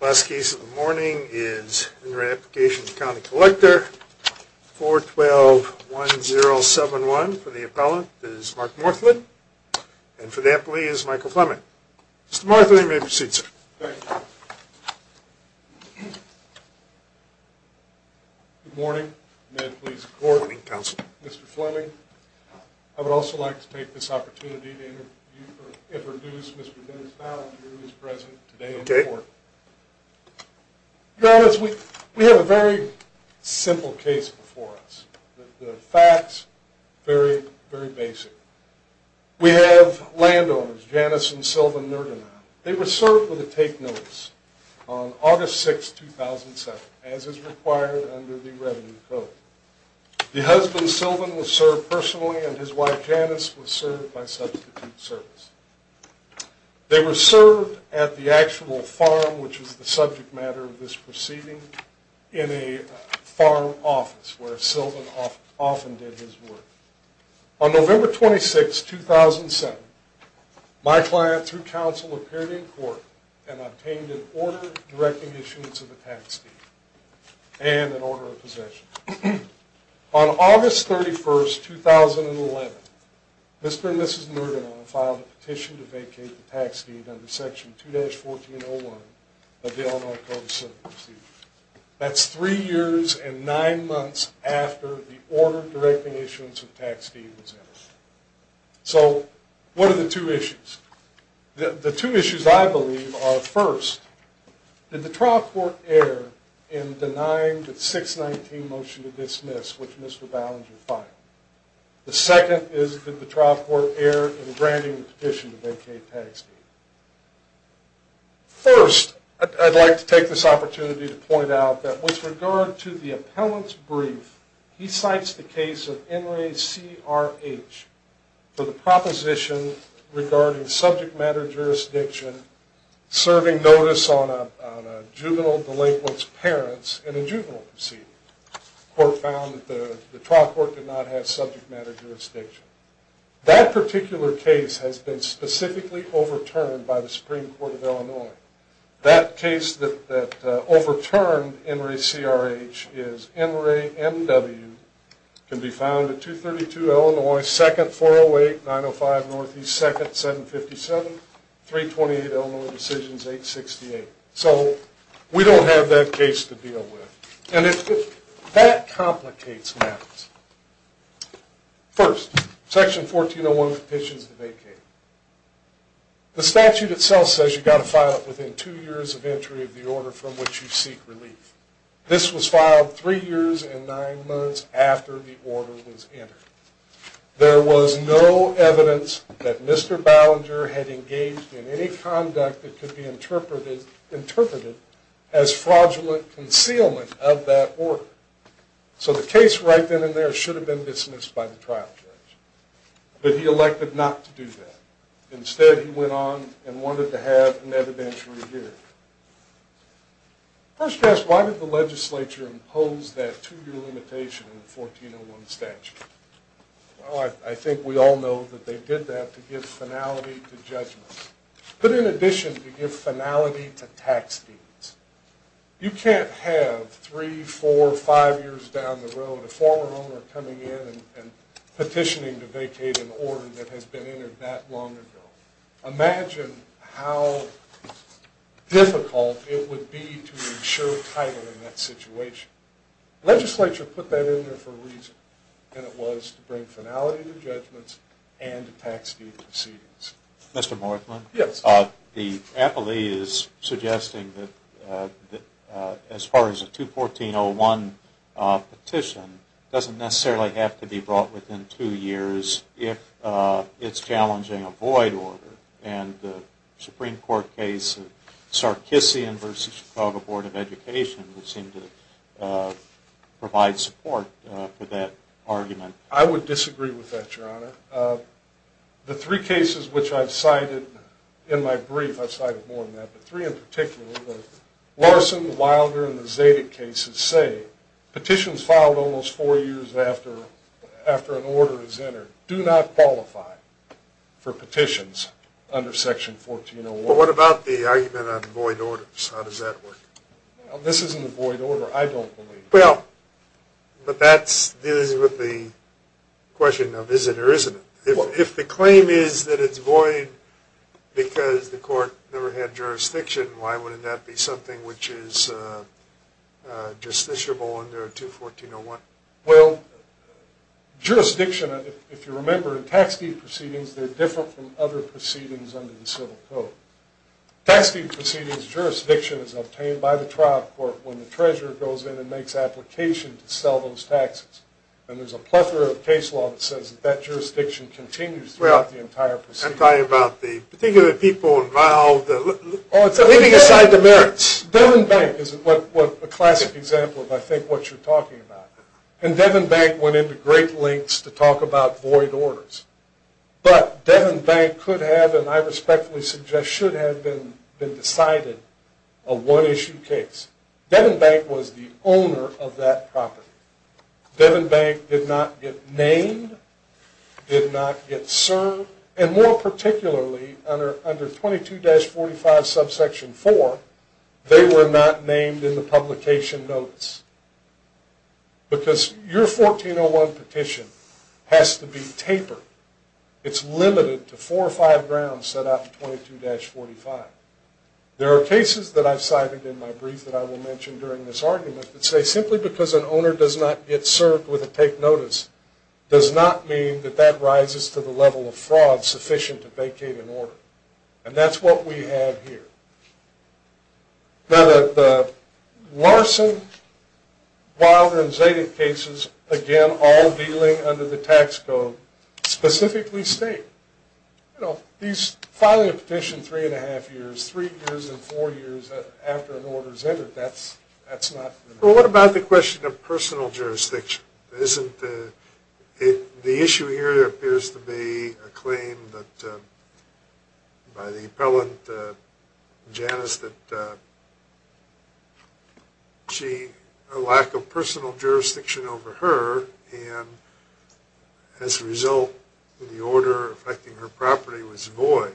Last case of the morning is in re Application of County Collector, 412-1071, for the appellant is Mark Morthland, and for the appellee is Michael Fleming. Mr. Morthland, you may proceed, sir. Thank you. Good morning. May I please have the floor? Good morning, counsel. Mr. Fleming, I would also like to take this opportunity to introduce Mr. Dennis Ballinger, who is present today on the floor. Your Honor, we have a very simple case before us. The facts, very basic. We have landowners, Janice and Sylvan Nergenau. They were served with a take notice on August 6, 2007, as is required under the Revenue Code. The husband, Sylvan, was served personally, and his wife, Janice, was served by substitute service. They were served at the actual farm, which is the subject matter of this proceeding, in a farm office, where Sylvan often did his work. On November 26, 2007, my client, through counsel, appeared in court and obtained an order directing issuance of a tax deed and an order of possession. On August 31, 2011, Mr. and Mrs. Nergenau filed a petition to vacate the tax deed under Section 2-1401 of the Illinois Code of Civil Procedure. That's three years and nine months after the order directing issuance of tax deed was entered. So, what are the two issues? The two issues, I believe, are, first, did the trial court err in denying the 619 motion to dismiss, which Mr. Ballinger filed? The second is, did the trial court err in granting the petition to vacate the tax deed? First, I'd like to take this opportunity to point out that with regard to the appellant's brief, he cites the case of NRA CRH for the proposition regarding subject matter jurisdiction serving notice on a juvenile delinquent's parents in a juvenile proceeding. The court found that the trial court did not have subject matter jurisdiction. That particular case has been specifically overturned by the Supreme Court of Illinois. That case that overturned NRA CRH is NRA MW, can be found at 232 Illinois, 2nd, 408, 905 Northeast, 2nd, 757, 328 Illinois Decisions, 868. So, we don't have that case to deal with. And that complicates matters. First, Section 1401 of the petition is to vacate. The statute itself says you've got to file it within two years of entry of the order from which you seek relief. This was filed three years and nine months after the order was entered. There was no evidence that Mr. Ballenger had engaged in any conduct that could be interpreted as fraudulent concealment of that order. So, the case right then and there should have been dismissed by the trial judge. But he elected not to do that. Instead, he went on and wanted to have an evidentiary hearing. First question, why did the legislature impose that two-year limitation in the 1401 statute? Well, I think we all know that they did that to give finality to judgment. But in addition, to give finality to tax fees. You can't have three, four, five years down the road a former owner coming in and petitioning to vacate an order that has been entered that long ago. Imagine how difficult it would be to ensure title in that situation. Legislature put that in there for a reason. And it was to bring finality to judgments and tax fee proceedings. Mr. Morthman? Yes. The appellee is suggesting that as far as a 214-01 petition, it doesn't necessarily have to be brought within two years if it's challenging a void order. And the Supreme Court case of Sarkissian v. Chicago Board of Education would seem to provide support for that argument. I would disagree with that, Your Honor. The three cases which I've cited in my brief, I've cited more than that, but three in particular, the Larson, the Wilder, and the Zedick cases say petitions filed almost four years after an order is entered do not qualify for petitions under Section 1401. Well, what about the argument on void orders? How does that work? This isn't a void order, I don't believe. Well, but that's dealing with the question of is it or isn't it. If the claim is that it's void because the court never had jurisdiction, why wouldn't that be something which is justiciable under 214-01? Well, jurisdiction, if you remember, in tax fee proceedings, they're different from other proceedings under the Civil Code. Tax fee proceedings, jurisdiction is obtained by the trial court when the treasurer goes in and makes application to sell those taxes. And there's a plethora of case law that says that that jurisdiction continues throughout the entire proceeding. I'm talking about the particular people involved, leaving aside the merits. Devon Bank is a classic example of, I think, what you're talking about. And Devon Bank went into great lengths to talk about void orders. But Devon Bank could have, and I respectfully suggest should have, been decided a one-issue case. Devon Bank was the owner of that property. Devon Bank did not get named, did not get served, and more particularly, under 22-45 subsection 4, they were not named in the publication notice. Because your 14-01 petition has to be tapered. It's limited to four or five grounds set out in 22-45. There are cases that I've cited in my brief that I will mention during this argument that say simply because an owner does not get served with a take notice, does not mean that that rises to the level of fraud sufficient to vacate an order. And that's what we have here. Now, the Larson, Wilder, and Zadig cases, again, all dealing under the tax code, specifically state, you know, these, filing a petition three and a half years, three years and four years after an order is entered, that's not... Well, what about the question of personal jurisdiction? The issue here appears to be a claim by the appellant, Janice, that a lack of personal jurisdiction over her, and as a result, the order affecting her property was void.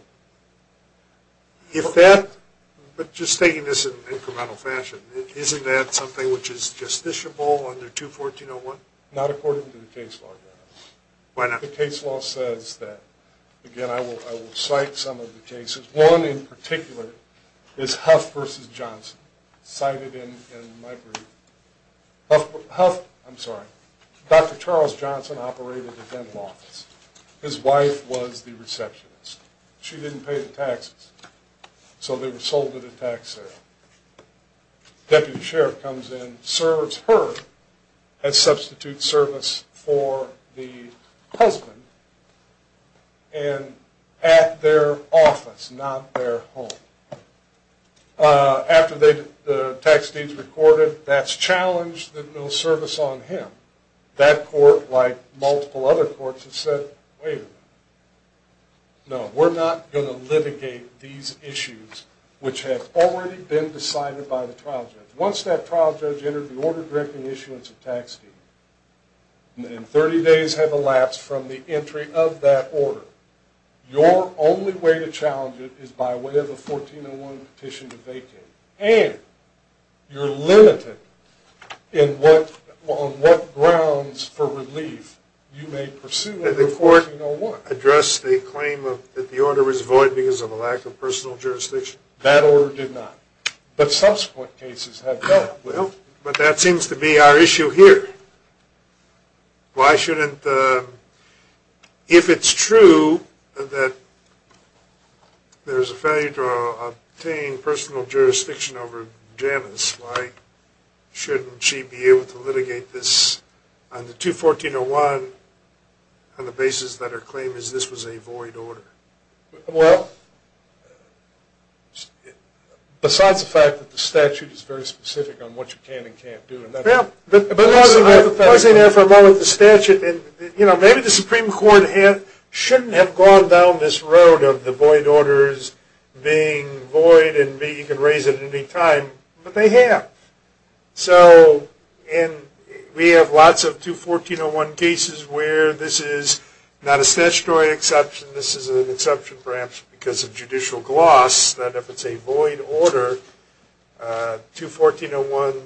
If that, but just taking this in incremental fashion, isn't that something which is justiciable under 214-01? Not according to the case law, Janice. Why not? The case law says that, again, I will cite some of the cases. One in particular is Huff v. Johnson, cited in my brief. Huff, I'm sorry, Dr. Charles Johnson operated a dental office. His wife was the receptionist. She didn't pay the taxes, so they were sold to the taxes. Deputy Sheriff comes in, serves her as substitute service for the husband, and at their office, not their home. After the tax deeds recorded, that's challenged, there's no service on him. That court, like multiple other courts, has said, wait a minute. No, we're not going to litigate these issues which have already been decided by the trial judge. Once that trial judge entered the order directing issuance of tax deed, and 30 days have elapsed from the entry of that order, your only way to challenge it is by way of a 14-01 petition to vacate, and you're limited on what grounds for relief you may pursue a 14-01. Did the court address the claim that the order was void because of a lack of personal jurisdiction? That order did not, but subsequent cases have done. Well, but that seems to be our issue here. Why shouldn't, if it's true that there's a failure to obtain personal jurisdiction over Janice, why shouldn't she be able to litigate this on the 2-14-01 on the basis that her claim is this was a void order? Well, besides the fact that the statute is very specific on what you can and can't do. Well, I was in there for a moment with the statute, and maybe the Supreme Court shouldn't have gone down this road of the void orders being void and you can raise it at any time, but they have. So we have lots of 2-14-01 cases where this is not a statutory exception. This is an exception perhaps because of judicial gloss that if it's a void order, 2-14-01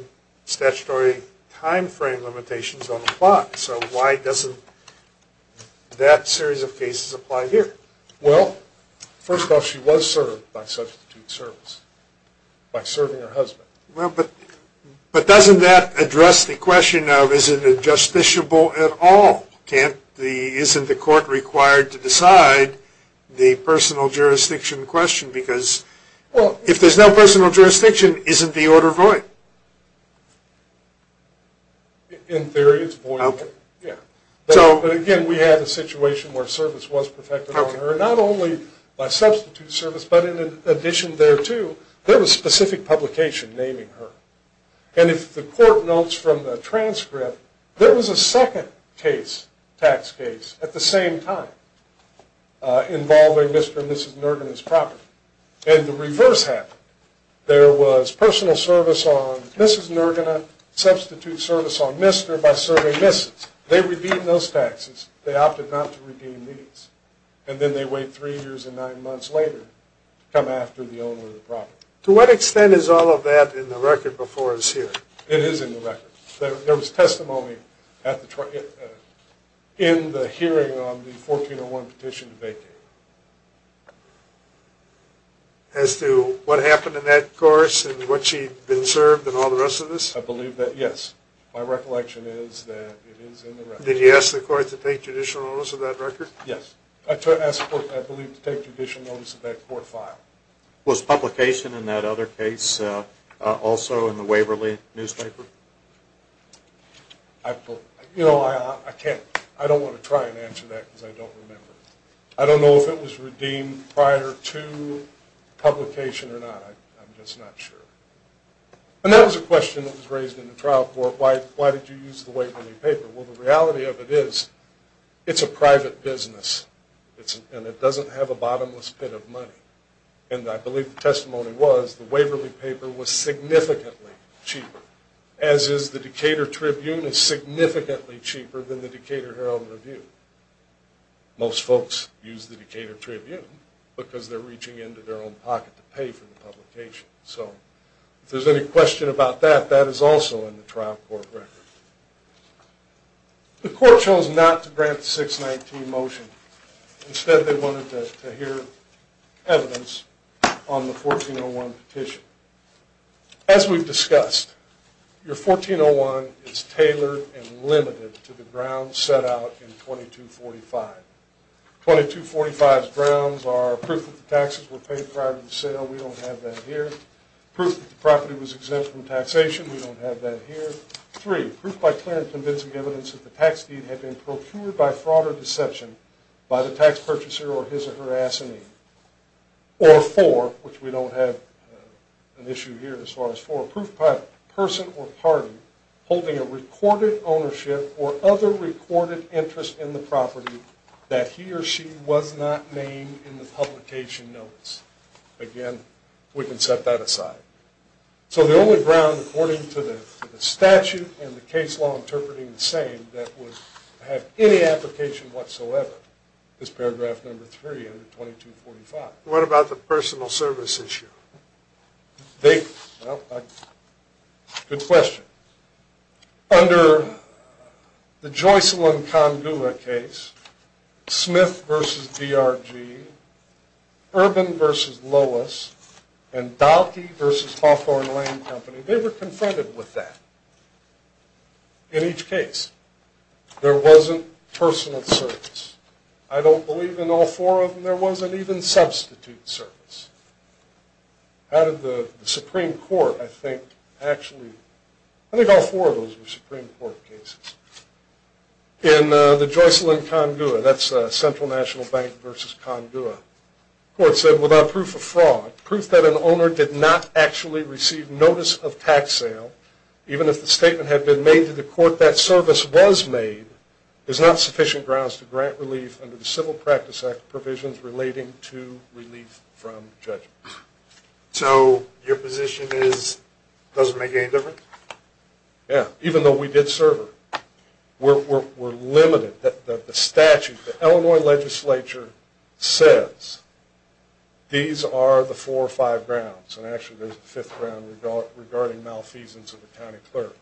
statutory time frame limitations don't apply. So why doesn't that series of cases apply here? Well, first off, she was served by substitute service, by serving her husband. Well, but doesn't that address the question of is it justiciable at all? Isn't the court required to decide the personal jurisdiction question? Because if there's no personal jurisdiction, isn't the order void? In theory, it's void. But again, we have a situation where service was perfected on her, not only by substitute service, but in addition thereto, there was specific publication naming her. And if the court notes from the transcript, there was a second tax case at the same time involving Mr. and Mrs. Nergina's property. And the reverse happened. There was personal service on Mrs. Nergina, substitute service on Mr. by serving Mrs. They redeemed those taxes. They opted not to redeem these. And then they wait three years and nine months later to come after the owner of the property. To what extent is all of that in the record before us here? It is in the record. There was testimony in the hearing on the 1401 petition to vacate. As to what happened in that course and what she had been served and all the rest of this? I believe that, yes. My recollection is that it is in the record. Did you ask the court to take judicial notice of that record? Yes. I asked the court, I believe, to take judicial notice of that court file. Was publication in that other case also in the Waverly newspaper? I don't want to try and answer that because I don't remember. I don't know if it was redeemed prior to publication or not. I'm just not sure. And that was a question that was raised in the trial court. Why did you use the Waverly paper? Well, the reality of it is it's a private business. And it doesn't have a bottomless pit of money. And I believe the testimony was the Waverly paper was significantly cheaper, as is the Decatur Tribune is significantly cheaper than the Decatur Herald and Review. Most folks use the Decatur Tribune because they're reaching into their own pocket to pay for the publication. So if there's any question about that, that is also in the trial court record. The court chose not to grant the 619 motion. Instead, they wanted to hear evidence on the 1401 petition. As we've discussed, your 1401 is tailored and limited to the grounds set out in 2245. 2245's grounds are proof that the taxes were paid prior to the sale. We don't have that here. Proof that the property was exempt from taxation. We don't have that here. Proof 3, proof by clear and convincing evidence that the tax deed had been procured by fraud or deception by the tax purchaser or his or her assignee. Or 4, which we don't have an issue here as far as 4, proof by person or party holding a recorded ownership or other recorded interest in the property that he or she was not named in the publication notice. Again, we can set that aside. So the only ground according to the statute and the case law interpreting the same that would have any application whatsoever is paragraph number 3 under 2245. What about the personal service issue? Well, good question. Under the Joyce Lynn Congula case, Smith v. DRG, Urban v. Lois, and Dahlke v. Hawthorne Lane Company, they were confronted with that in each case. There wasn't personal service. I don't believe in all four of them there wasn't even substitute service. How did the Supreme Court, I think, actually, I think all four of those were Supreme Court cases. In the Joyce Lynn Congula, that's Central National Bank v. Congula, the court said without proof of fraud, proof that an owner did not actually receive notice of tax sale, even if the statement had been made to the court that service was made, is not sufficient grounds to grant relief under the Civil Practice Act provisions relating to relief from judgment. So your position is it doesn't make any difference? Yeah, even though we did serve her. We're limited. The statute, the Illinois legislature says these are the four or five grounds, and actually there's a fifth ground regarding malfeasance of the county clerk.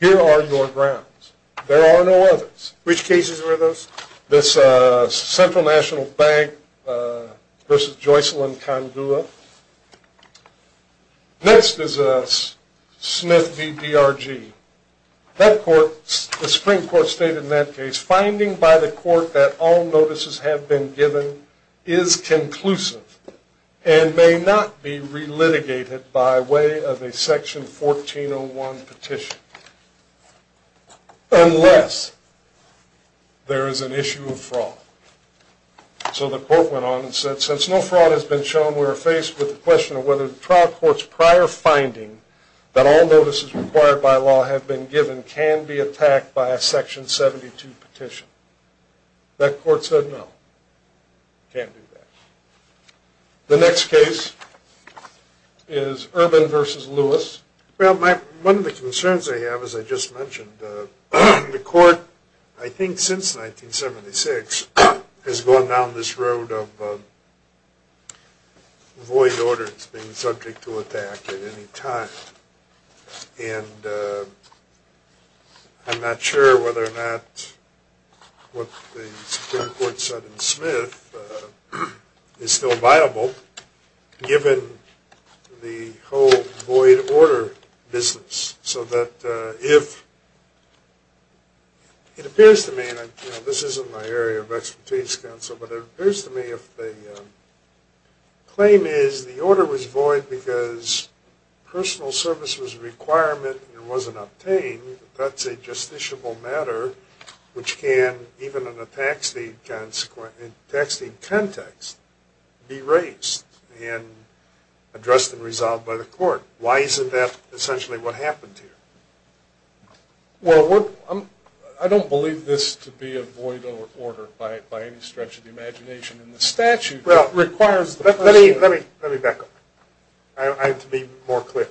Here are your grounds. There are no others. Which cases were those? This Central National Bank v. Joyce Lynn Congula. Next is Smith v. DRG. The Supreme Court stated in that case, finding by the court that all notices have been given is conclusive and may not be relitigated by way of a Section 1401 petition unless there is an issue of fraud. So the court went on and said since no fraud has been shown, we are faced with the question of whether the trial court's prior finding that all notices required by law have been given can be attacked by a Section 72 petition. That court said no, can't do that. The next case is Urban v. Lewis. Well, one of the concerns I have, as I just mentioned, the court, I think since 1976, has gone down this road of void orders being subject to attack at any time. And I'm not sure whether or not what the Supreme Court said in Smith is still viable given the whole void order business. So that if, it appears to me, and this isn't my area of expertise, but it appears to me if the claim is the order was void because personal service was a requirement and it wasn't obtained, that's a justiciable matter, which can, even in a tax deed context, be raised and addressed and resolved by the court. Why isn't that essentially what happened here? Well, I don't believe this to be a void order by any stretch of the imagination. In the statute, it requires... Let me back up. I have to be more clear.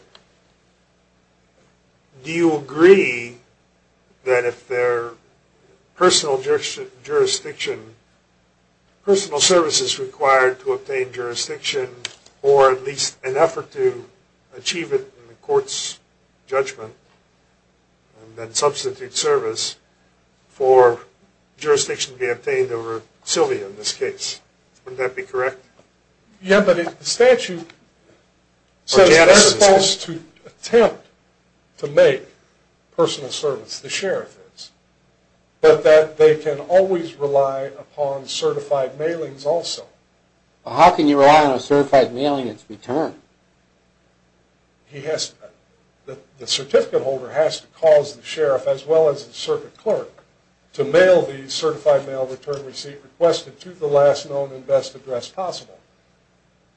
Do you agree that if there are personal services required to obtain jurisdiction or at least an effort to achieve it in the court's judgment and then substitute service for jurisdiction to be obtained over Sylvia in this case? Wouldn't that be correct? Yeah, but the statute says they're supposed to attempt to make personal service the sheriff is, but that they can always rely upon certified mailings also. How can you rely on a certified mailing in its return? The certificate holder has to cause the sheriff as well as the circuit clerk to mail the certified mail return receipt requested to the last known and best address possible.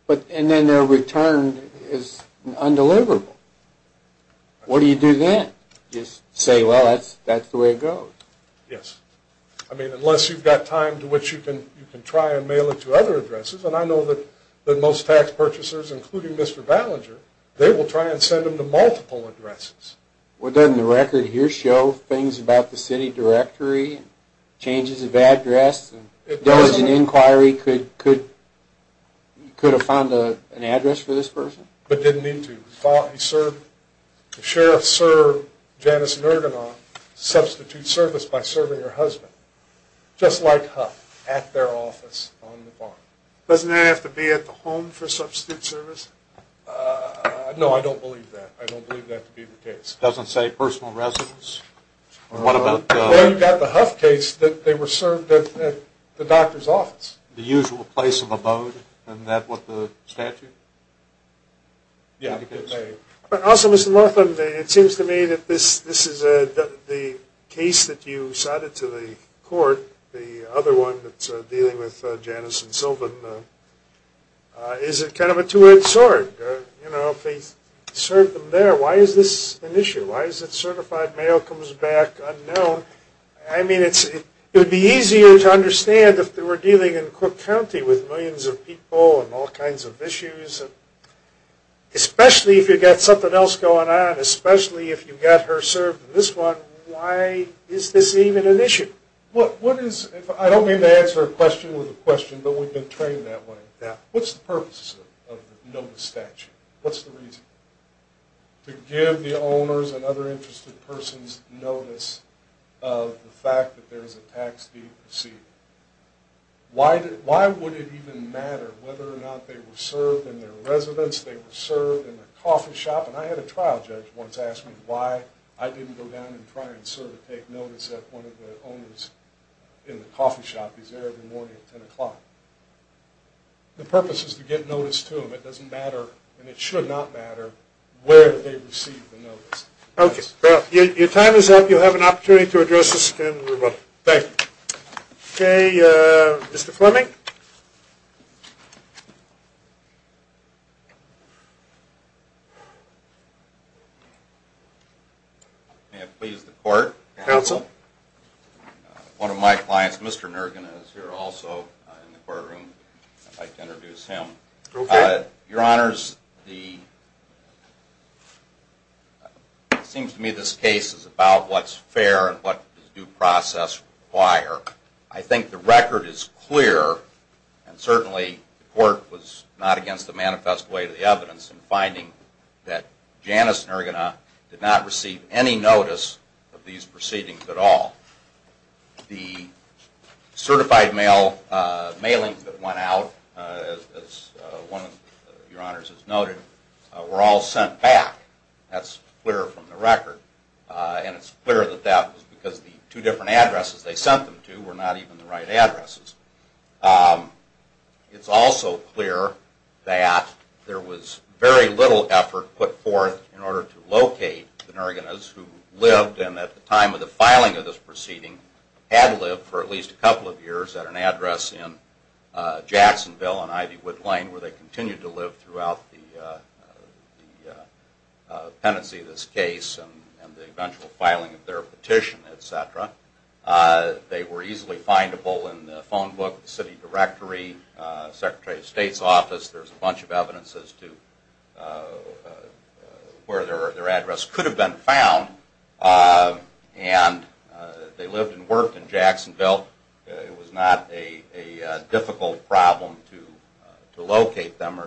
And then their return is undeliverable. What do you do then? Just say, well, that's the way it goes. Yes. I mean, unless you've got time to which you can try and mail it to other addresses, and I know that most tax purchasers, including Mr. Ballinger, they will try and send them to multiple addresses. Well, doesn't the record here show things about the city directory, changes of address, and does an inquiry could have found an address for this person? But didn't need to. The sheriff served Janice Nurgenoff substitute service by serving her husband, just like Huff, at their office on the farm. Doesn't that have to be at the home for substitute service? No, I don't believe that. I don't believe that to be the case. It doesn't say personal residence? Well, you've got the Huff case that they were served at the doctor's office. The usual place of abode? Isn't that what the statute indicates? Yeah. Also, Mr. Laughlin, it seems to me that this is the case that you cited to the court, the other one that's dealing with Janice and Sylvan. Is it kind of a two-edged sword? You know, if they served them there, why is this an issue? Why is it certified mail comes back unknown? I mean, it would be easier to understand if they were dealing in Cook County with millions of people and all kinds of issues, especially if you've got something else going on, especially if you've got her served in this one, why is this even an issue? I don't mean to answer a question with a question, but we've been trained that way. What's the purpose of the notice statute? What's the reason? To give the owners and other interested persons notice of the fact that there is a tax deed received. Why would it even matter whether or not they were served in their residence, they were served in a coffee shop? And I had a trial judge once ask me why I didn't go down and try and sort of take notice of one of the owners in the coffee shop. He's there every morning at 10 o'clock. The purpose is to get notice to them. It doesn't matter, and it should not matter, where they received the notice. Okay. Well, your time is up. You'll have an opportunity to address this again. Thank you. Okay. Mr. Fleming? May it please the Court? Counsel? One of my clients, Mr. Nurgen, is here also in the courtroom. I'd like to introduce him. Okay. Your Honors, it seems to me this case is about what's fair and what is due process require. I think the record is clear that the owner, and certainly the Court was not against the manifest way of the evidence in finding that Janice Nurgen did not receive any notice of these proceedings at all. The certified mailings that went out, as one of your Honors has noted, were all sent back. That's clear from the record. And it's clear that that was because the two different addresses they sent them to were not even the right addresses. It's also clear that there was very little effort put forth in order to locate the Nurgens who lived, and at the time of the filing of this proceeding, had lived for at least a couple of years at an address in Jacksonville and Ivywood Lane, where they continued to live throughout the pendency of this case and the eventual filing of their petition, et cetera. They were easily findable in the phone book, the city directory, the Secretary of State's office. There's a bunch of evidence as to where their address could have been found. And they lived and worked in Jacksonville. It was not a difficult problem to locate them,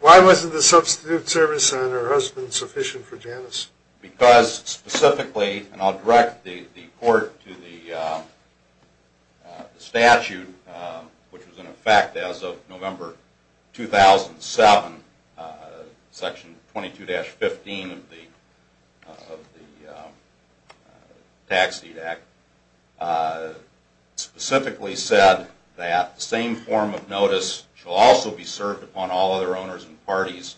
Why wasn't the substitute service on her husband sufficient for Janice? Because specifically, and I'll direct the court to the statute, which was in effect as of November 2007, Section 22-15 of the Tax Deed Act, specifically said that the same form of notice shall also be served upon all other owners and parties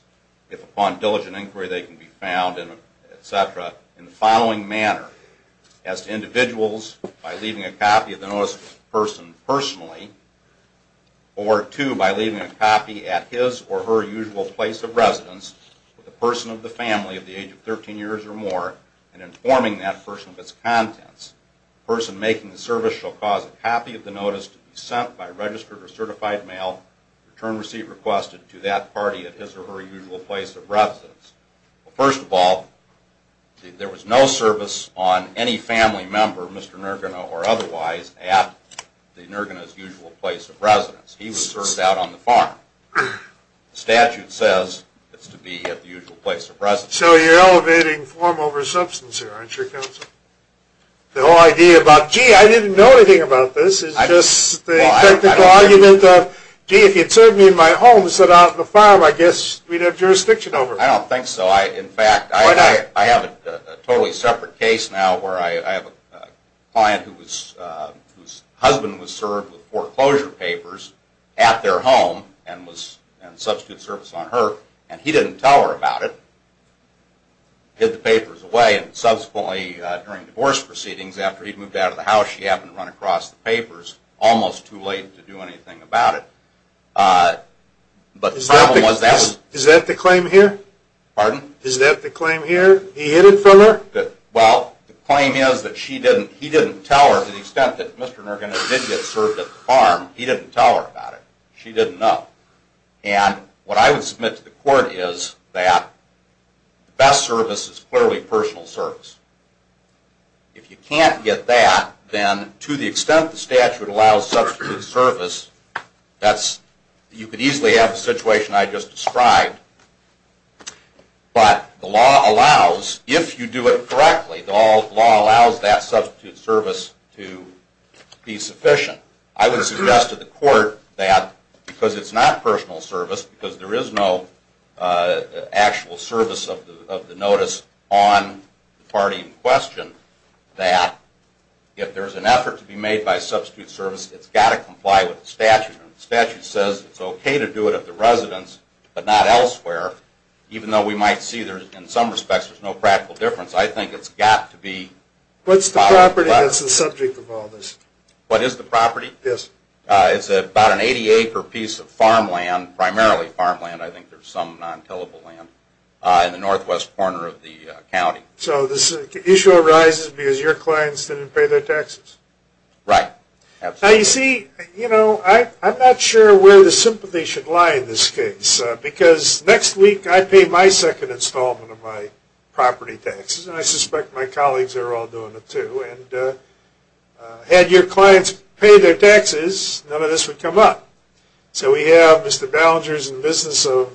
if upon diligent inquiry they can be found, et cetera, in the following manner. As to individuals, by leaving a copy of the notice to the person personally, or two, by leaving a copy at his or her usual place of residence with the person of the family of the age of 13 years or more and informing that person of its contents, the person making the service shall cause a copy of the notice to be sent by registered or certified mail, return receipt requested to that party at his or her usual place of residence. First of all, there was no service on any family member, Mr. Nergena or otherwise, at the Nergena's usual place of residence. He was served out on the farm. The statute says it's to be at the usual place of residence. So you're elevating form over substance here, aren't you, Counsel? The whole idea about, gee, I didn't know anything about this, is just the technical argument of, gee, if you'd served me in my home and sent out on the farm, I guess we'd have jurisdiction over it. I don't think so. In fact, I have a totally separate case now where I have a client whose husband was served with foreclosure papers at their home and was in substitute service on her, and he didn't tell her about it, hid the papers away, and subsequently, during divorce proceedings, after he'd moved out of the house, she happened to run across the papers almost too late to do anything about it. But the problem was that... Is that the claim here? Pardon? Is that the claim here? He hid it from her? Well, the claim is that he didn't tell her, to the extent that Mr. Nergena did get served at the farm, he didn't tell her about it. She didn't know. And what I would submit to the court is that the best service is clearly personal service. If you can't get that, then to the extent the statute allows substitute service, that's... You could easily have the situation I just described, but the law allows, if you do it correctly, the law allows that substitute service to be sufficient. I would suggest to the court that, because it's not personal service, because there is no actual service of the notice on the party in question, that if there's an effort to be made by substitute service, it's got to comply with the statute. And the statute says it's okay to do it at the residence, but not elsewhere, even though we might see there's, in some respects, there's no practical difference. I think it's got to be... What's the property that's the subject of all this? What is the property? Yes. It's about an 80-acre piece of farmland, primarily farmland, I think there's some non-tillable land, in the northwest corner of the county. So the issue arises because your clients didn't pay their taxes? Right. Now, you see, I'm not sure where the sympathy should lie in this case, because next week I pay my second installment of my property taxes, and I suspect my colleagues are all doing it, too. Had your clients paid their taxes, none of this would come up. So we have Mr. Ballingers in the business of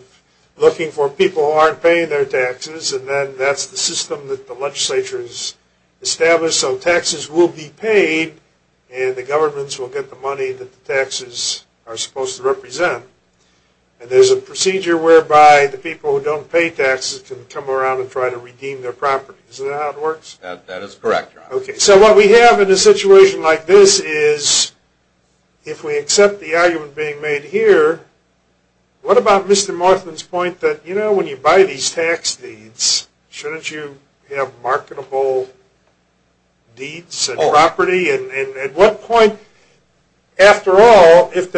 looking for people who aren't paying their taxes, and then that's the system that the legislature has established. So taxes will be paid, and the governments will get the money that the taxes are supposed to represent. And there's a procedure whereby the people who don't pay taxes can come around and try to redeem their property. Isn't that how it works? That is correct. Okay. So what we have in a situation like this is, if we accept the argument being made here, what about Mr. Morthman's point that, you know, when you buy these tax deeds, shouldn't you have marketable deeds and property? And at what point, after all, if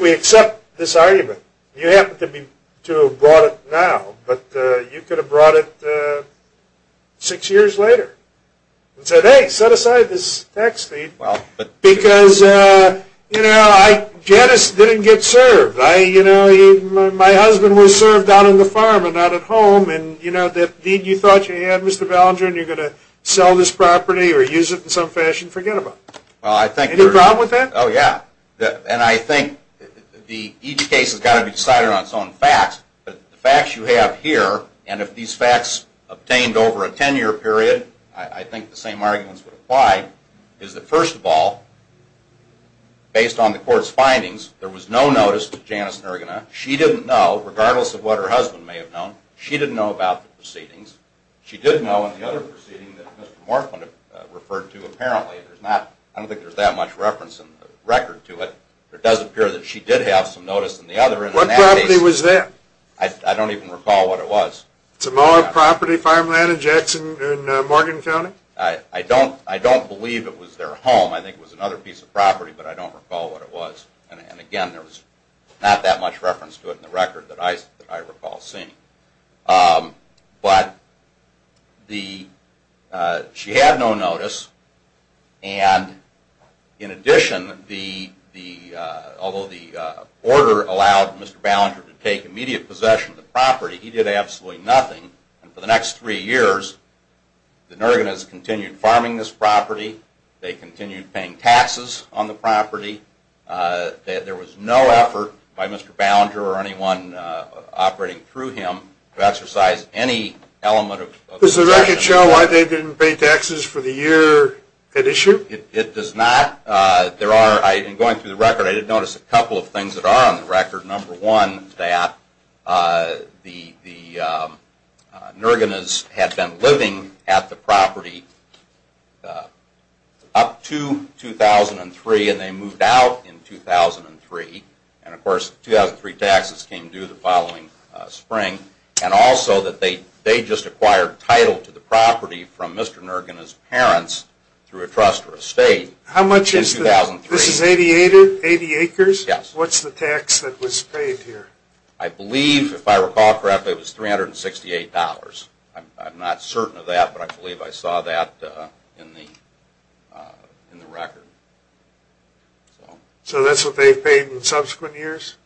we accept this argument, you happen to have brought it now, but you could have brought it six years later and said, hey, set aside this tax deed because, you know, Janice didn't get served. My husband was served down on the farm and not at home, and the deed you thought you had, Mr. Ballinger, and you're going to sell this property or use it in some fashion, forget about it. Any problem with that? Oh, yeah. And I think the easy case has got to be decided on its own. But the facts you have here, and if these facts obtained over a 10-year period, I think the same arguments would apply, is that first of all, based on the court's findings, there was no notice to Janice Nergena. She didn't know, regardless of what her husband may have known, she didn't know about the proceedings. She did know in the other proceeding that Mr. Morthman referred to, apparently. I don't think there's that much reference in the record to it, but it does appear that she did have some notice in the other. What property was that? I don't even recall what it was. It's a molar property, farmland in Jackson and Morgan County? I don't believe it was their home. I think it was another piece of property, but I don't recall what it was. And again, there was not that much reference to it in the record that I recall seeing. But she had no notice, and in addition, although the order allowed Mr. Ballinger to take immediate possession of the property, he did absolutely nothing. For the next three years, the Nergenas continued farming this property. They continued paying taxes on the property. There was no effort by Mr. Ballinger or anyone operating through him to exercise any element of protection. Does the record show why they didn't pay taxes for the year at issue? It does not. In going through the record, I did notice a couple of things that are on the record. Number one, that the Nergenas had been living at the property up to 2003, and they moved out in 2003. And of course, 2003 taxes came due the following spring. And also that they just acquired title to the property from Mr. Nergena's parents through a trust or estate in 2003. This is 80 acres? Yes. What's the tax that was paid here? I believe, if I recall correctly, it was $368. I'm not certain of that, but I believe I saw that in the record. So that's what they paid in subsequent years?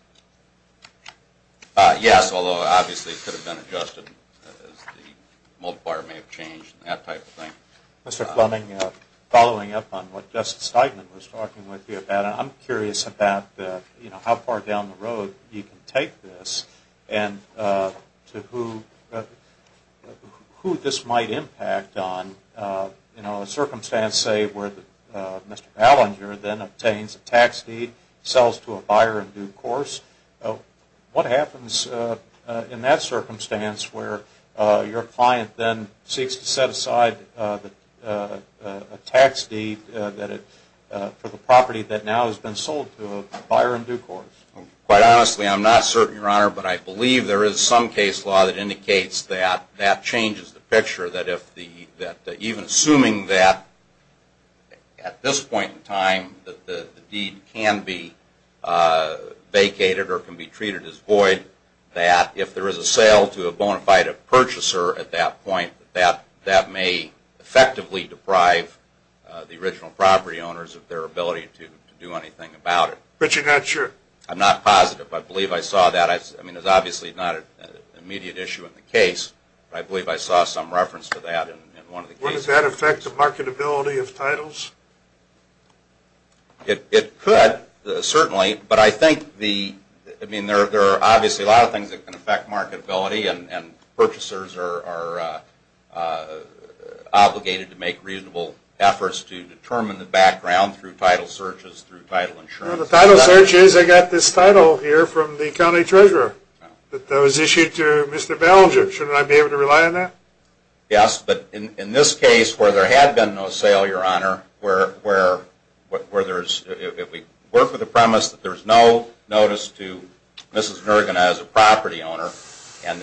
Yes, although obviously it could have been adjusted as the multiplier may have changed and that type of thing. Mr. Fleming, following up on what Justice Steigman was talking with you about, I'm curious about how far down the road you can take this and to who this might impact on a circumstance, say, where Mr. Ballinger then obtains a tax deed, sells to a buyer in due course. What happens in that circumstance where your client then seeks to set aside a tax deed for the property that now has been sold to a buyer in due course? Quite honestly, I'm not certain, Your Honor, but I believe there is some case law that indicates that that changes the picture, that even assuming that at this point in time the deed can be vacated or can be treated as void, that if there is a sale to a bona fide purchaser at that point, that may effectively deprive the original property owners of their ability to do anything about it. But you're not sure? I'm not positive. I believe I saw that. I mean, it's obviously not an immediate issue in the case, but I believe I saw some reference to that in one of the cases. Would that affect the marketability of titles? It could, certainly, but I think there are obviously a lot of things that can affect marketability and purchasers are obligated to make reasonable efforts to determine the background through title searches, through title insurance. The title search is I got this title here from the county treasurer that was issued to Mr. Ballinger. Shouldn't I be able to rely on that? Yes, but in this case where there had been no sale, Your Honor, if we work with the premise that there's no notice to Mrs. Nurgen as a property owner and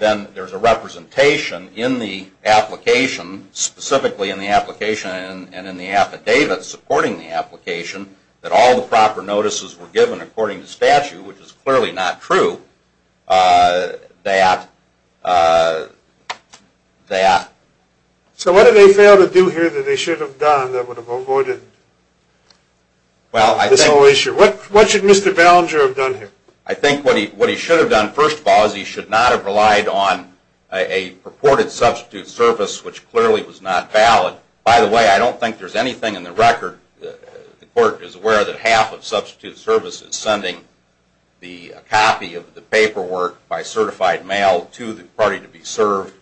then there's a representation in the application, specifically in the application and in the affidavit supporting the application, that all the proper notices were given according to statute, which is clearly not true, that... So what did they fail to do here that they should have done that would have avoided this whole issue? What should Mr. Ballinger have done here? I think what he should have done, first of all, is he should not have relied on a purported substitute service, which clearly was not valid. By the way, I don't think there's anything in the record. The court is aware that half of substitute service is sending a copy of the paperwork by certified mail to the party to be served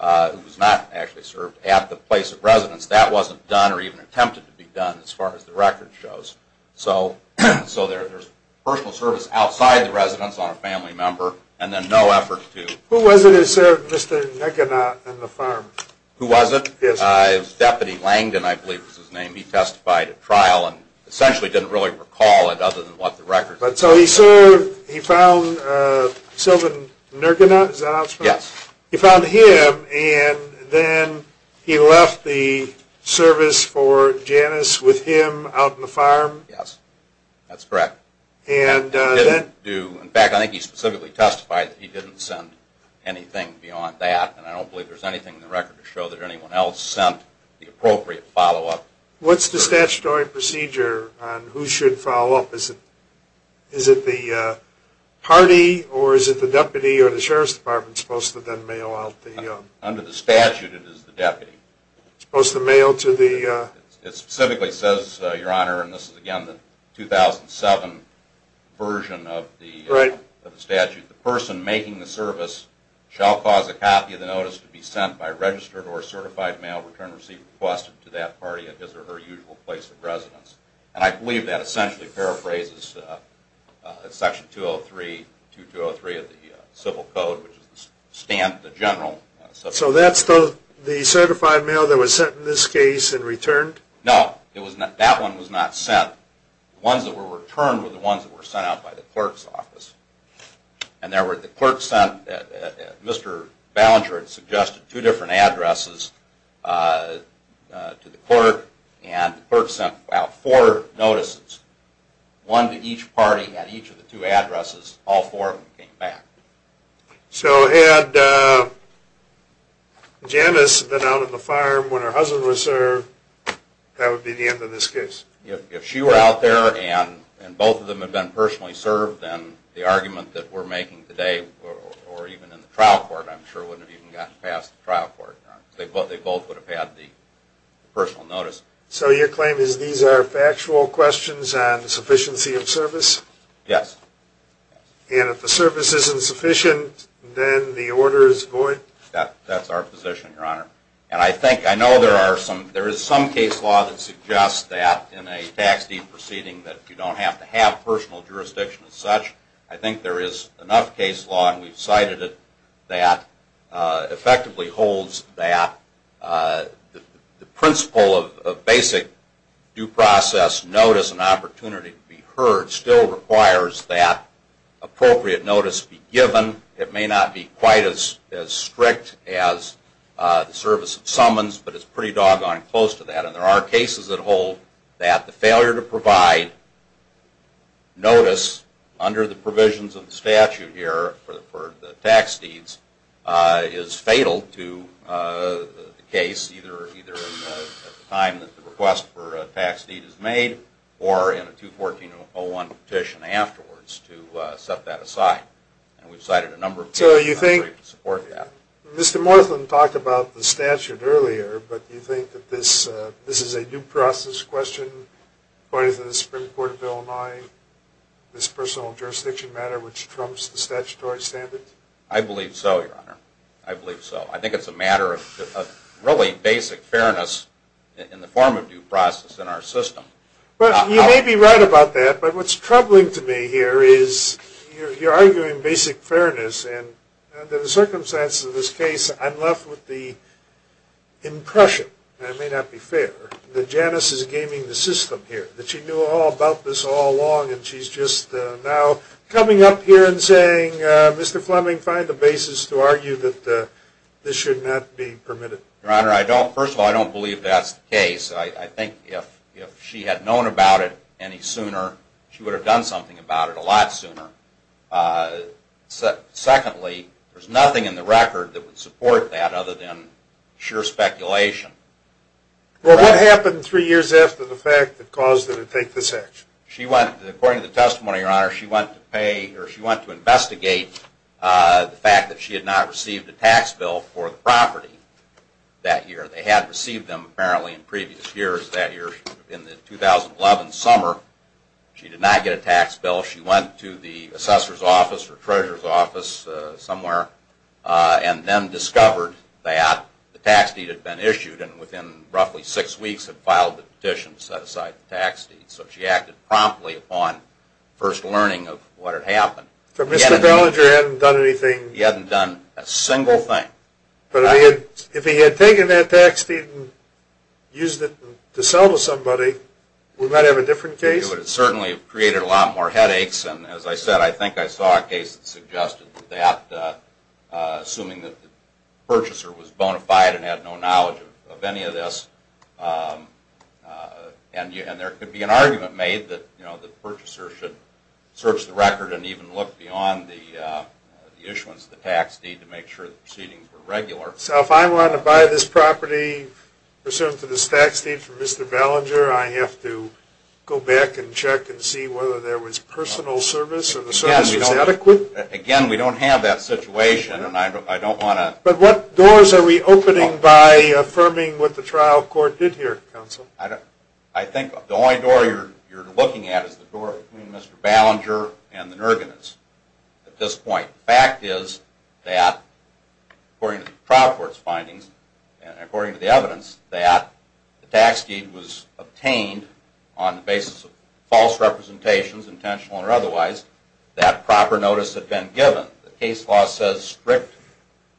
who was not actually served at the place of residence. That wasn't done or even attempted to be done as far as the record shows. So there's personal service outside the residence on a family member and then no effort to... Who was it that served Mr. Nugent on the farm? Who was it? Deputy Langdon, I believe was his name. He testified at trial and essentially didn't really recall it other than what the record... But so he served, he found Sylvan Nurgunath, is that how it's spelled? Yes. He found him and then he left the service for Janice with him out on the farm? Yes, that's correct. And then... In fact, I think he specifically testified that he didn't send anything beyond that and I don't believe there's anything in the record to show that anyone else sent the appropriate follow-up. What's the statutory procedure on who should follow up? Is it the party or is it the deputy or the sheriff's department supposed to then mail out the... Under the statute it is the deputy. Supposed to mail to the... It specifically says, Your Honor, and this is again the 2007 version of the statute, the person making the service shall cause a copy of the notice to be sent by registered or certified mail returned or received requested to that party at his or her usual place of residence. And I believe that essentially paraphrases Section 203, 2203 of the Civil Code, which is the general... So that's the certified mail that was sent in this case and returned? No, that one was not sent. The ones that were returned were the ones that were sent out by the clerk's office. And the clerk sent... Mr. Ballinger had suggested two different addresses to the clerk and the clerk sent out four notices, one to each party at each of the two addresses. All four of them came back. So had Janice been out on the farm when her husband was there, that would be the end of this case? If she were out there and both of them had been personally served, then the argument that we're making today, or even in the trial court, I'm sure wouldn't have even gotten past the trial court, Your Honor. They both would have had the personal notice. So your claim is these are factual questions on sufficiency of service? Yes. And if the service isn't sufficient, then the order is void? That's our position, Your Honor. I know there is some case law that suggests that in a tax deed proceeding that you don't have to have personal jurisdiction as such. I think there is enough case law, and we've cited it, that effectively holds that the principle of basic due process notice and opportunity to be heard still requires that appropriate notice be given. It may not be quite as strict as the service of summons, but it's pretty doggone close to that. And there are cases that hold that the failure to provide notice under the provisions of the statute here for the tax deeds is fatal to the case, either at the time that the request for a tax deed is made or in a 214-01 petition afterwards to set that aside. So you think Mr. Morthen talked about the statute earlier, but you think that this is a due process question according to the Supreme Court Bill 9, this personal jurisdiction matter which trumps the statutory standards? I believe so, Your Honor. I believe so. I think it's a matter of really basic fairness in the form of due process in our system. You may be right about that, but what's troubling to me here is you're arguing basic fairness, and under the circumstances of this case, I'm left with the impression, and I may not be fair, that Janice is gaming the system here, that she knew all about this all along, and she's just now coming up here and saying, Mr. Fleming, find the basis to argue that this should not be permitted. Your Honor, first of all, I don't believe that's the case. I think if she had known about it any sooner, she would have done something about it a lot sooner. Secondly, there's nothing in the record that would support that other than sheer speculation. Well, what happened three years after the fact that caused her to take this action? According to the testimony, Your Honor, she went to pay, or she went to investigate the fact that she had not received a tax bill for the property that year. They had received them apparently in previous years, that year in the 2011 summer. She did not get a tax bill. She went to the assessor's office or treasurer's office somewhere and then discovered that the tax deed had been issued, and within roughly six weeks had filed the petition to set aside the tax deed. So she acted promptly upon first learning of what had happened. So Mr. Belanger hadn't done anything? He hadn't done a single thing. But if he had taken that tax deed and used it to sell to somebody, we might have a different case? It certainly created a lot more headaches, and as I said, I think I saw a case that suggested that, assuming that the purchaser was bona fide and had no knowledge of any of this. And there could be an argument made that the purchaser should search the record and even look beyond the issuance of the tax deed to make sure the proceedings were regular. So if I want to buy this property pursuant to this tax deed from Mr. Belanger, I have to go back and check and see whether there was personal service or the service was adequate? Again, we don't have that situation, and I don't want to… But what doors are we opening by affirming what the trial court did here, counsel? I think the only door you're looking at is the door between Mr. Belanger and the Nergenists at this point. The fact is that, according to the trial court's findings, and according to the evidence, that the tax deed was obtained on the basis of false representations, intentional or otherwise, that proper notice had been given. The case law says strict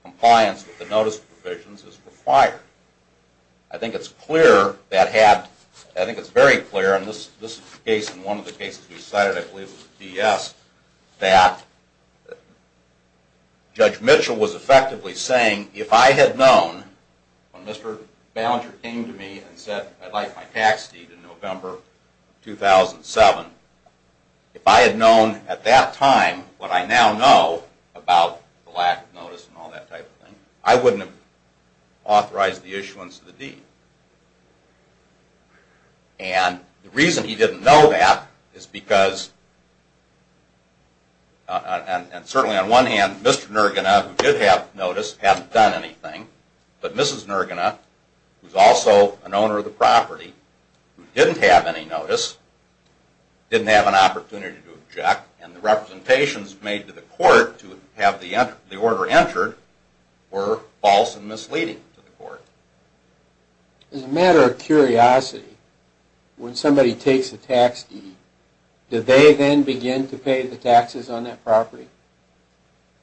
compliance with the notice provisions is required. I think it's very clear, and this is the case in one of the cases we cited, I believe it was DS, that Judge Mitchell was effectively saying, if I had known when Mr. Belanger came to me and said, I'd like my tax deed in November 2007, if I had known at that time what I now know about the lack of notice and all that type of thing, I wouldn't have authorized the issuance of the deed. And the reason he didn't know that is because, and certainly on one hand, Mr. Nergena, who did have notice, hadn't done anything, but Mrs. Nergena, who's also an owner of the property, who didn't have any notice, didn't have an opportunity to object, and the representations made to the court to have the order entered were false and misleading to the court. As a matter of curiosity, when somebody takes a tax deed, do they then begin to pay the taxes on that property?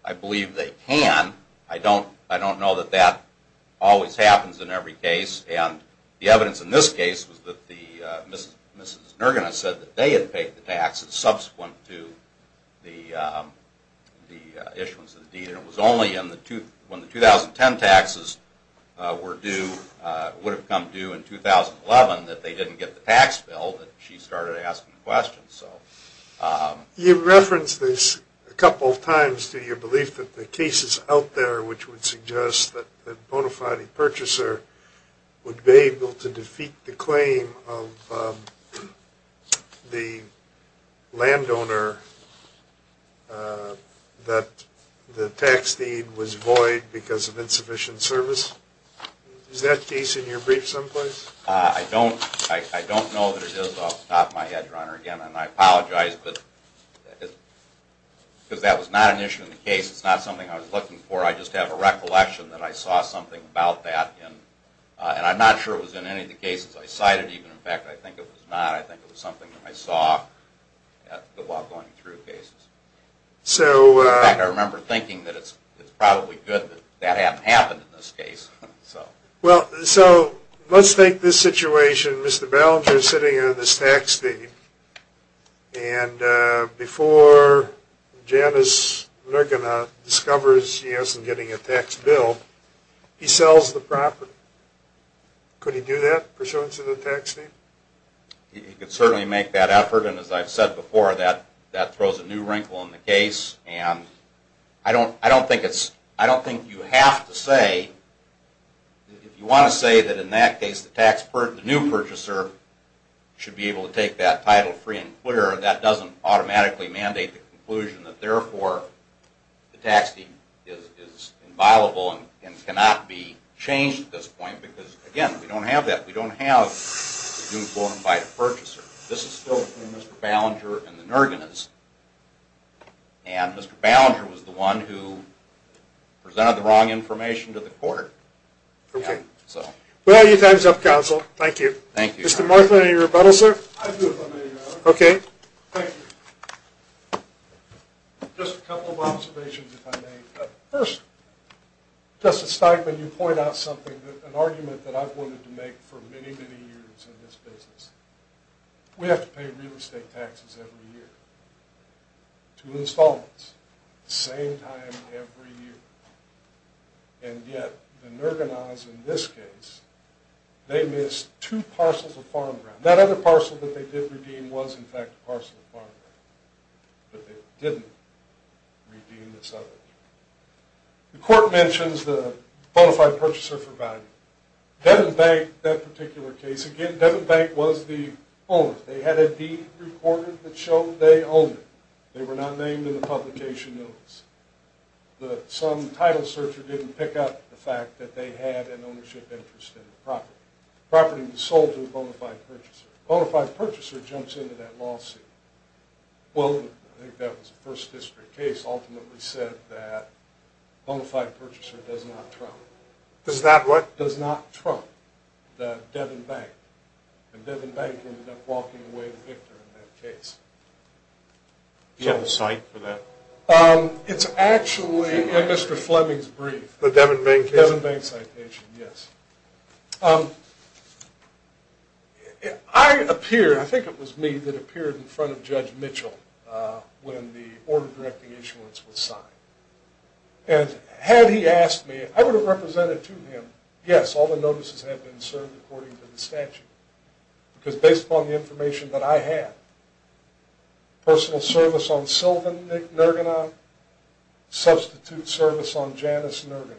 I believe they can. I don't know that that always happens in every case, and the evidence in this case was that Mrs. Nergena said that they had paid the taxes subsequent to the issuance of the deed, and it was only when the 2010 taxes would have come due in 2011 that they didn't get the tax bill that she started asking questions. You referenced this a couple of times to your belief that the cases out there which would suggest that a bona fide purchaser would be able to defeat the claim of the landowner that the tax deed was void because of insufficient service. Is that case in your brief someplace? I don't know that it is off the top of my head, Your Honor. Again, I apologize because that was not an issue in the case. It's not something I was looking for. I just have a recollection that I saw something about that, and I'm not sure it was in any of the cases I cited. In fact, I think it was not. I think it was something that I saw while going through cases. In fact, I remember thinking that it's probably good that that hadn't happened in this case. Well, so let's take this situation. Mr. Ballinger is sitting on this tax deed, and before Janice Nergena discovers she isn't getting a tax bill, he sells the property. Could he do that pursuant to the tax deed? He could certainly make that effort, and as I've said before, that throws a new wrinkle in the case. And I don't think you have to say, if you want to say that in that case the new purchaser should be able to take that title free and clear, that doesn't automatically mandate the conclusion that therefore the tax deed is inviolable and cannot be changed at this point because, again, we don't have that. We don't have the new quote-unquote purchaser. This is still between Mr. Ballinger and the Nergenas, and Mr. Ballinger was the one who presented the wrong information to the court. Okay. Well, your time's up, counsel. Thank you. Thank you. Mr. Martha, any rebuttal, sir? I do, if I may, Your Honor. Okay. Thank you. Just a couple of observations, if I may. First, Justice Steinman, you point out something, an argument that I've wanted to make for many, many years in this business. We have to pay real estate taxes every year to installments at the same time every year, and yet the Nergenas in this case, they missed two parcels of farmland. That other parcel that they did redeem was, in fact, a parcel of farmland, but they didn't redeem the settlement. The court mentions the bona fide purchaser for value. Devon Bank, that particular case, again, Devon Bank was the owner. They had a deed recorded that showed they owned it. They were not named in the publication notice. Some title searcher didn't pick up the fact that they had an ownership interest in the property. The property was sold to the bona fide purchaser. The bona fide purchaser jumps into that lawsuit. Well, I think that was the first district case ultimately said that bona fide purchaser does not trump. Does not what? Does not trump the Devon Bank, and Devon Bank ended up walking away the victor in that case. Do you have a cite for that? It's actually in Mr. Fleming's brief. The Devon Bank case? The Devon Bank citation, yes. I appear, I think it was me, that appeared in front of Judge Mitchell when the order directing issuance was signed. And had he asked me, I would have represented to him, yes, all the notices had been served according to the statute. Because based upon the information that I had, personal service on Sylvan Nergena, substitute service on Janice Nergena,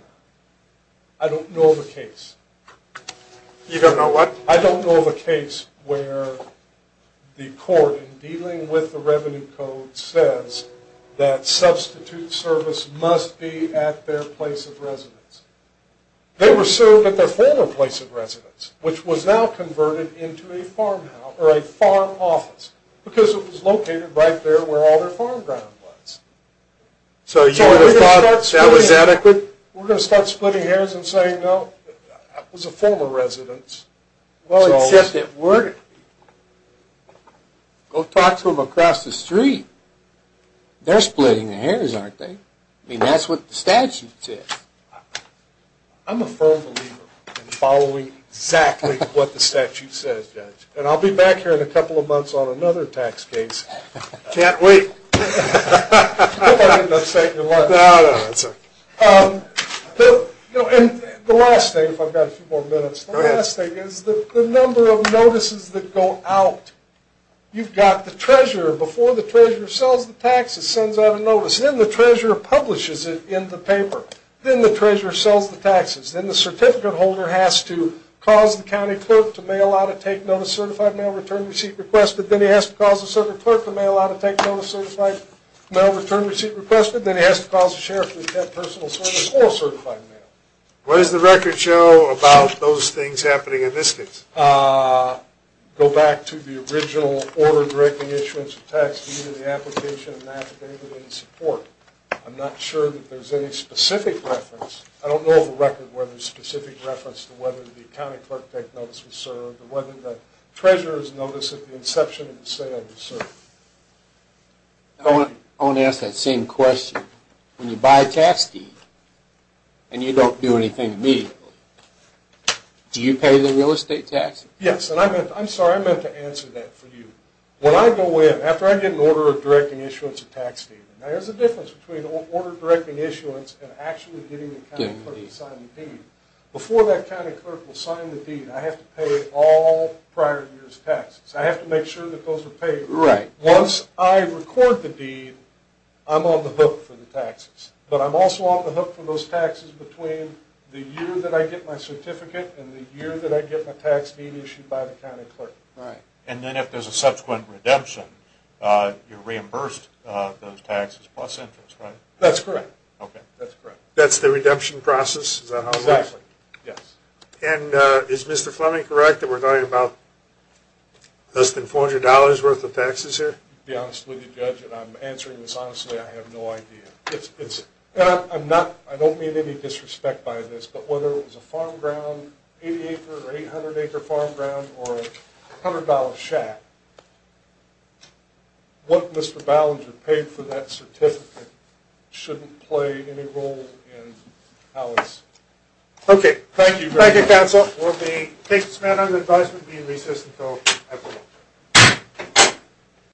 I don't know of a case. You don't know what? I don't know of a case where the court, in dealing with the revenue code, says that substitute service must be at their place of residence. They were served at their former place of residence, which was now converted into a farmhouse, or a farm office, because it was located right there where all their farm ground was. So you would have thought that was adequate? We're going to start splitting hairs and saying, no, it was a former residence. Well, it's just that we're going to talk to them across the street. They're splitting the hairs, aren't they? I mean, that's what the statute says. I'm a firm believer in following exactly what the statute says, Judge. And I'll be back here in a couple of months on another tax case. Can't wait. I hope I didn't upset your lunch. No, no, that's all right. And the last thing, if I've got a few more minutes, the last thing is the number of notices that go out. You've got the treasurer. Before the treasurer sells the taxes, sends out a notice. Then the treasurer publishes it in the paper. Then the treasurer sells the taxes. Then the certificate holder has to cause the county clerk to mail out a take notice certified mail return receipt request, and then he has to cause the sheriff to accept personal service or certified mail. What does the record show about those things happening in this case? Go back to the original order directing issuance of tax due to the application and affidavit in support. I'm not sure that there's any specific reference. I don't know of a record where there's specific reference to whether the county clerk take notice was served, I want to ask that same question. When you buy a tax deed and you don't do anything immediately, do you pay the real estate tax? Yes, and I'm sorry, I meant to answer that for you. When I go in, after I get an order of directing issuance of tax due, there's a difference between an order of directing issuance and actually getting the county clerk to sign the deed. Before that county clerk will sign the deed, I have to pay all prior year's taxes. I have to make sure that those are paid. Once I record the deed, I'm on the hook for the taxes. But I'm also on the hook for those taxes between the year that I get my certificate and the year that I get my tax deed issued by the county clerk. And then if there's a subsequent redemption, you're reimbursed those taxes plus interest, right? That's correct. That's the redemption process? Exactly, yes. And is Mr. Fleming correct that we're talking about less than $400 worth of taxes here? To be honest with you, Judge, and I'm answering this honestly, I have no idea. And I don't mean any disrespect by this, but whether it was a farm ground, 80 acre or 800 acre farm ground, or a $100 shack, what Mr. Ballinger paid for that certificate shouldn't play any role in how it's… Okay, thank you, counsel.